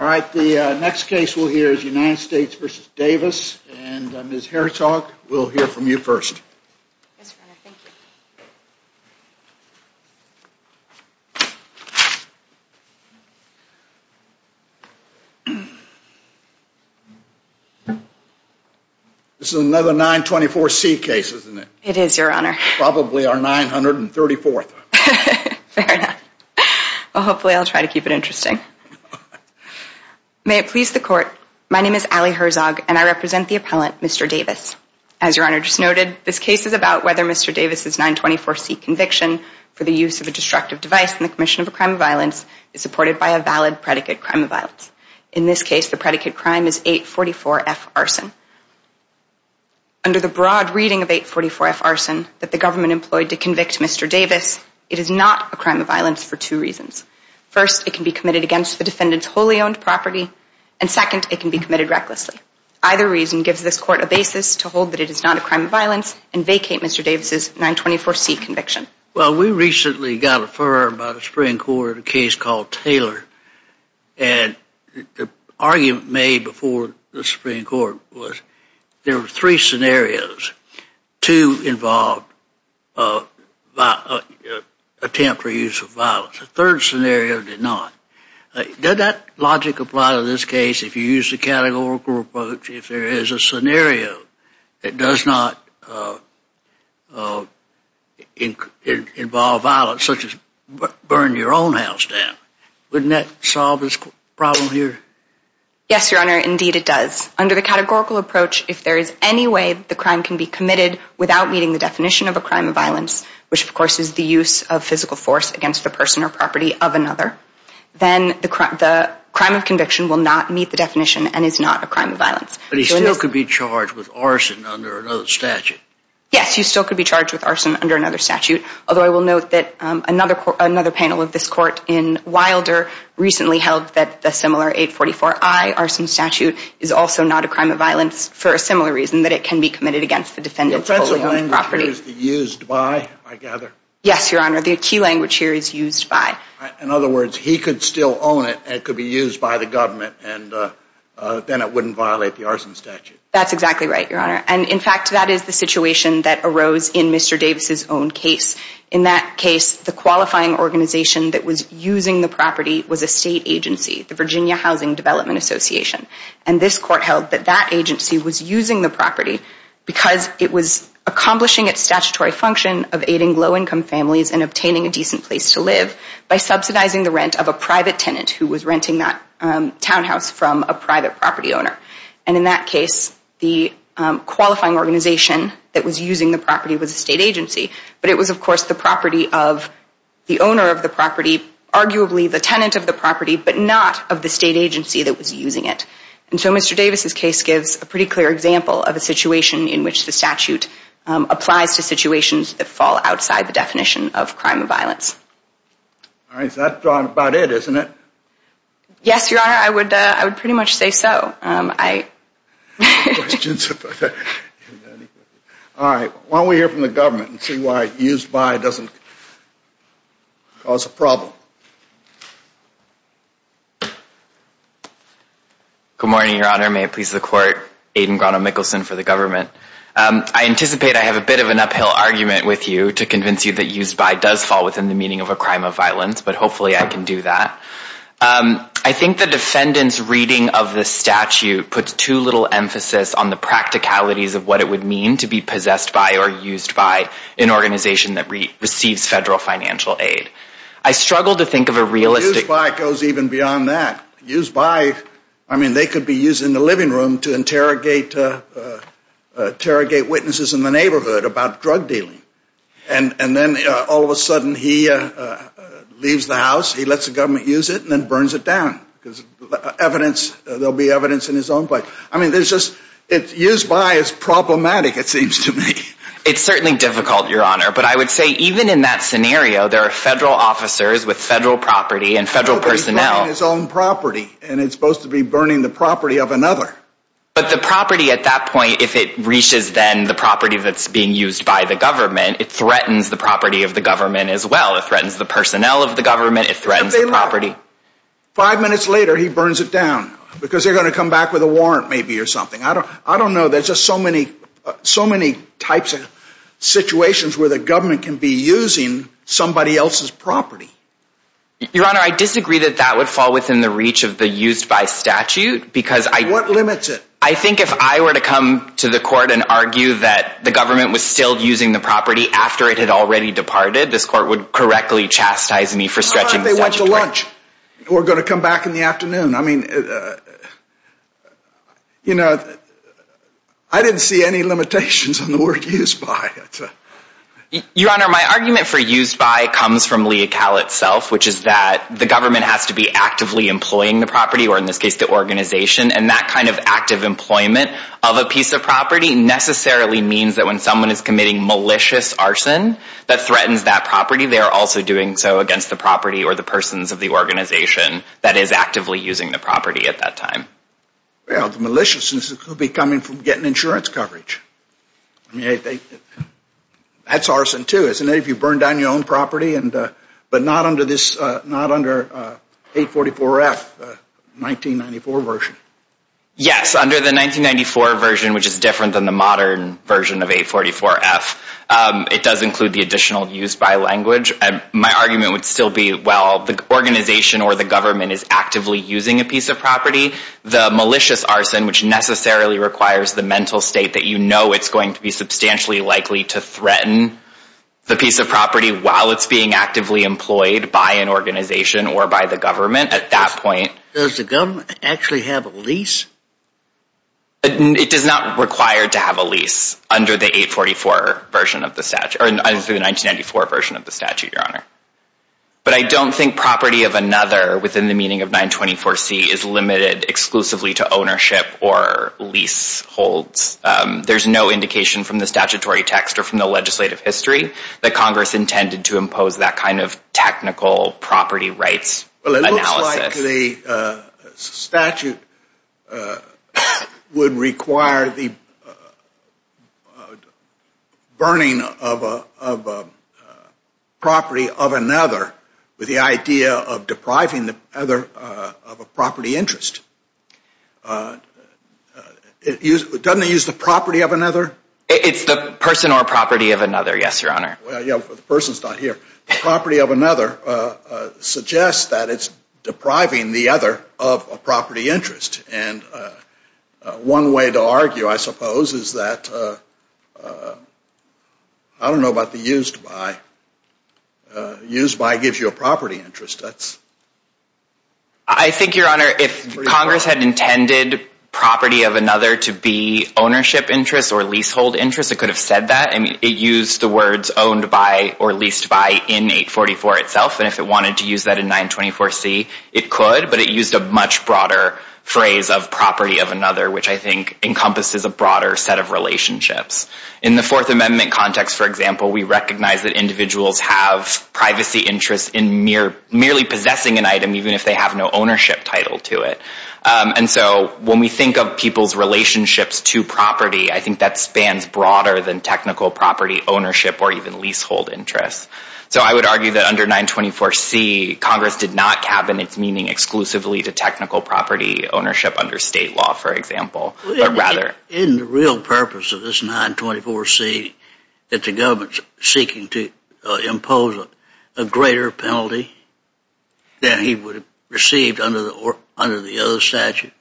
All right, the next case we'll hear is United States v. Davis, and Ms. Herzog, we'll hear from you first. This is another 924C case, isn't it? It is, Your Honor. Probably our 934th. Fair enough. Well, hopefully I'll try to keep it interesting. May it please the Court, my name is Allie Herzog, and I represent the appellant, Mr. Davis. As Your Honor just noted, this case is about whether Mr. Davis' 924C conviction for the use of a destructive device in the commission of a crime of violence is supported by a valid predicate crime of violence. In this case, the predicate crime is 844F arson. Under the broad reading of 844F arson that the government employed to convict Mr. Davis, it is not a crime of violence for two reasons. First, it can be committed against the defendant's wholly owned property, and second, it can be committed recklessly. Either reason gives this Court a basis to hold that it is not a crime of violence and vacate Mr. Davis' 924C conviction. Well, we recently got a firm by the Supreme Court in a case called Taylor, and the argument made before the Supreme Court was there were three scenarios. Two involved an attempt for use of violence. The third scenario did not. Does that logic apply to this case if you use the categorical approach if there is a scenario that does not involve violence such as burn your own house down? Wouldn't that solve this problem here? Yes, Your Honor, indeed it does. Under the categorical approach, if there is any way the crime can be committed without meeting the definition of a crime of violence, which of course is the use of physical force against the person or property of another, then the crime of conviction will not meet the definition and is not a crime of violence. But he still could be charged with arson under another statute? Yes, he still could be charged with arson under another statute, although I will note that another panel of this Court in Wilder recently held that the similar 844I arson statute is also not a crime of violence for a similar reason, that it can be committed against the defendant's wholly owned property. Used by, I gather? Yes, Your Honor, the key language here is used by. In other words, he could still own it and it could be used by the government and then it wouldn't violate the arson statute? That's exactly right, Your Honor. And in fact, that is the situation that arose in Mr. Davis' own case. In that case, the qualifying organization that was using the property was a state agency, the Virginia Housing Development Association. And this Court held that that agency was using the property because it was accomplishing its statutory function of aiding low-income families and obtaining a decent place to live by subsidizing the rent of a private tenant who was renting that townhouse from a private property owner. And in that case, the qualifying organization that was using the property was a state agency, but it was, of course, the property of the owner of the property, arguably the tenant of the property, but not of the state agency that was using it. And so Mr. Davis' case gives a pretty clear example of a situation in which the statute applies to situations that fall outside the definition of crime of violence. All right, so that's about it, isn't it? Yes, Your Honor, I would pretty much say so. All right, why don't we hear from the government and see why used by doesn't cause a problem. Good morning, Your Honor. May it please the Court, Aiden Grano-Mikkelsen for the government. I anticipate I have a bit of an uphill argument with you to convince you that used by does fall within the meaning of a crime of violence, but hopefully I can do that. I think the defendant's reading of the statute puts too little emphasis on the practicalities of what it would mean to be possessed by or used by an organization that receives federal financial aid. I struggle to think of a realistic... Used by goes even beyond that. Used by, I mean, they could be used in the living room to interrogate witnesses in the neighborhood about drug dealing. And then all of a sudden he leaves the house, he lets the government use it, and then burns it down because there will be evidence in his own place. I mean, used by is problematic, it seems to me. It's certainly difficult, Your Honor, but I would say even in that scenario, there are federal officers with federal property and federal personnel... He's burning his own property, and he's supposed to be burning the property of another. But the property at that point, if it reaches then the property that's being used by the government, it threatens the property of the government as well. It threatens the personnel of the government, it threatens the property. Five minutes later, he burns it down because they're going to come back with a warrant maybe or something. I don't know, there's just so many types of situations where the government can be using somebody else's property. Your Honor, I disagree that that would fall within the reach of the used by statute because I... Your Honor, what limits it? I think if I were to come to the court and argue that the government was still using the property after it had already departed, this court would correctly chastise me for stretching the statute. What if they went to lunch or going to come back in the afternoon? I mean, you know, I didn't see any limitations on the word used by. Your Honor, my argument for used by comes from Leocal itself, which is that the government has to be actively employing the property, or in this case the organization, and that kind of active employment of a piece of property necessarily means that when someone is committing malicious arson that threatens that property, they are also doing so against the property or the persons of the organization that is actively using the property at that time. Well, the maliciousness could be coming from getting insurance coverage. I mean, that's arson too, isn't it? If you burn down your own property, but not under this, not under 844F, 1994 version. Yes, under the 1994 version, which is different than the modern version of 844F, it does include the additional used by language. My argument would still be, well, the organization or the government is actively using a piece of property. The malicious arson, which necessarily requires the mental state that you know it's going to be substantially likely to threaten the piece of property while it's being actively employed by an organization or by the government at that point. Does the government actually have a lease? It is not required to have a lease under the 844 version of the statute, or the 1994 version of the statute, Your Honor. But I don't think property of another within the meaning of 924C is limited exclusively to ownership or leaseholds. There's no indication from the statutory text or from the legislative history that Congress intended to impose that kind of technical property rights analysis. The statute would require the burning of a property of another with the idea of depriving the other of a property interest. Doesn't it use the property of another? It's the person or property of another, yes, Your Honor. The person's not here. The property of another suggests that it's depriving the other of a property interest. And one way to argue, I suppose, is that, I don't know about the used by. Used by gives you a property interest. I think, Your Honor, if Congress had intended property of another to be ownership interest or leasehold interest, it could have said that. I mean, it used the words owned by or leased by in 844 itself. And if it wanted to use that in 924C, it could. But it used a much broader phrase of property of another, which I think encompasses a broader set of relationships. In the Fourth Amendment context, for example, we recognize that individuals have privacy interests in merely possessing an item, even if they have no ownership title to it. And so when we think of people's relationships to property, I think that spans broader than technical property ownership or even leasehold interest. So I would argue that under 924C, Congress did not cabinet meaning exclusively to technical property ownership under state law, for example. Isn't the real purpose of this 924C that the government's seeking to impose a greater penalty than he would have received under the other statute?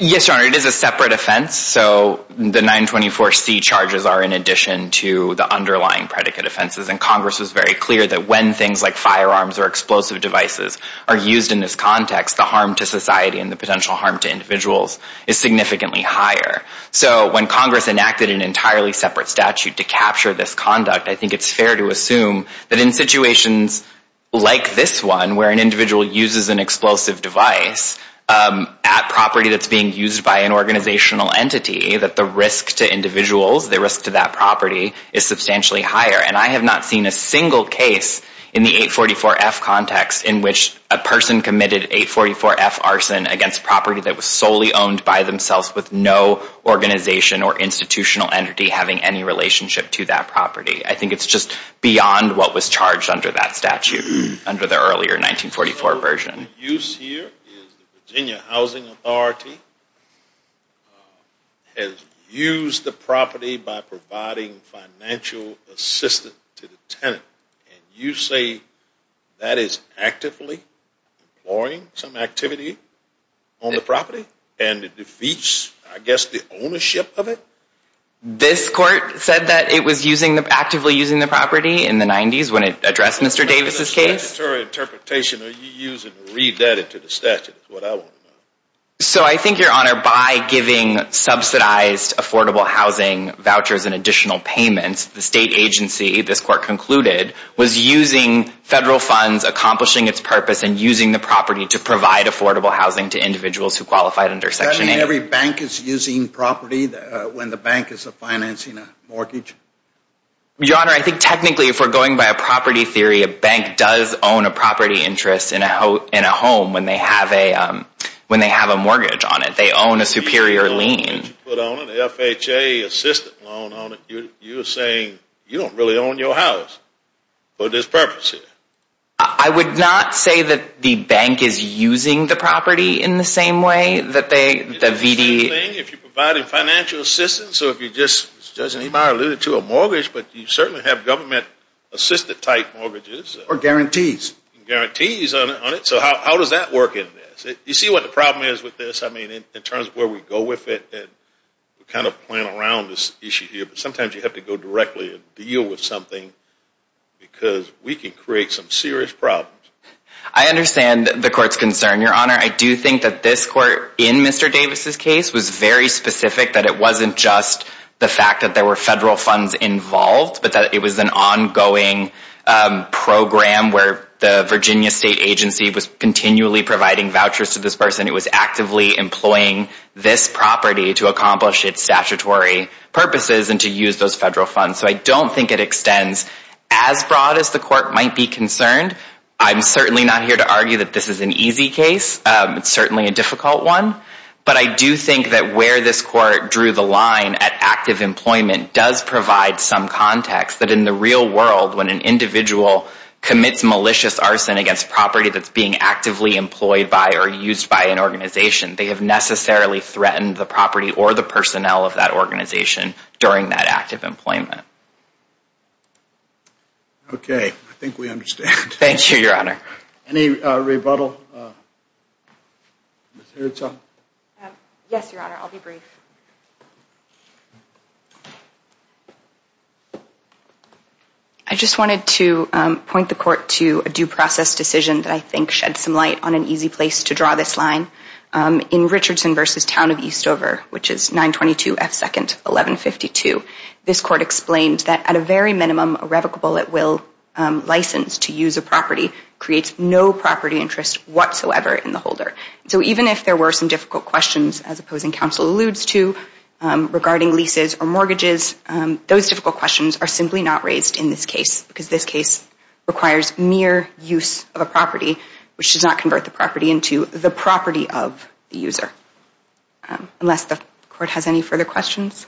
Yes, Your Honor, it is a separate offense. So the 924C charges are in addition to the underlying predicate offenses. And Congress was very clear that when things like firearms or explosive devices are used in this context, the harm to society and the potential harm to individuals is significantly higher. So when Congress enacted an entirely separate statute to capture this conduct, I think it's fair to assume that in situations like this one, where an individual uses an explosive device at property that's being used by an organizational entity, that the risk to individuals, the risk to that property, is substantially higher. And I have not seen a single case in the 844F context in which a person committed 844F arson against property that was solely owned by themselves with no organization or institutional entity having any relationship to that property. I think it's just beyond what was charged under that statute, under the earlier 1944 version. The use here is the Virginia Housing Authority has used the property by providing financial assistance to the tenant. And you say that is actively employing some activity on the property? And it defeats, I guess, the ownership of it? This court said that it was actively using the property in the 90s when it addressed Mr. Davis' case. What statutory interpretation are you using to read that into the statute is what I want to know. So I think, Your Honor, by giving subsidized affordable housing vouchers and additional payments, the state agency, this court concluded, was using federal funds, accomplishing its purpose, and using the property to provide affordable housing to individuals who qualified under Section 8. Does that mean every bank is using property when the bank is financing a mortgage? Your Honor, I think technically if we're going by a property theory, a bank does own a property interest in a home when they have a mortgage on it. They own a superior lien. You put on an FHA assistant loan on it, you're saying you don't really own your house for this purpose here. I would not say that the bank is using the property in the same way that they, the VD... So you're saying if you're providing financial assistance, or if you just, as Judge Niemeyer alluded to, a mortgage, but you certainly have government-assisted type mortgages. Or guarantees. Guarantees on it. So how does that work in this? You see what the problem is with this, I mean, in terms of where we go with it, we kind of plan around this issue here, but sometimes you have to go directly and deal with something because we can create some serious problems. I understand the Court's concern, Your Honor. I do think that this Court, in Mr. Davis' case, was very specific that it wasn't just the fact that there were federal funds involved, but that it was an ongoing program where the Virginia State Agency was continually providing vouchers to this person. It was actively employing this property to accomplish its statutory purposes and to use those federal funds. So I don't think it extends as broad as the Court might be concerned. I'm certainly not here to argue that this is an easy case. It's certainly a difficult one. But I do think that where this Court drew the line at active employment does provide some context that in the real world, when an individual commits malicious arson against property that's being actively employed by or used by an organization, they have necessarily threatened the property or the personnel of that organization during that active employment. Okay. I think we understand. Thank you, Your Honor. Any rebuttal? Yes, Your Honor. I'll be brief. I just wanted to point the Court to a due process decision that I think sheds some light on an easy place to draw this line. In Richardson v. Town of Eastover, which is 922 F. 2nd 1152, this Court explained that at a very minimum, a revocable at will license to use a property creates no property interest whatsoever in the holder. So even if there were some difficult questions, as opposing counsel alludes to, regarding leases or mortgages, those difficult questions are simply not raised in this case, because this case requires mere use of a property, which does not convert the property into the property of the user. Unless the Court has any further questions?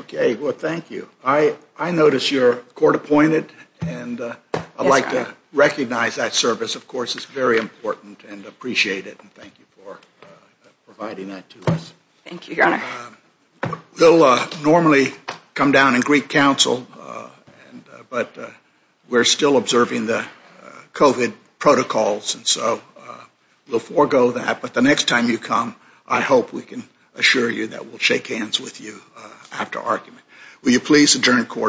Okay. Well, thank you. I notice you're court appointed, and I'd like to recognize that service, of course. It's very important and appreciate it, and thank you for providing that to us. Thank you, Your Honor. We'll normally come down and greet counsel, but we're still observing the COVID protocols, and so we'll forego that, but the next time you come, I hope we can assure you that we'll shake hands with you after argument. Will you please adjourn court?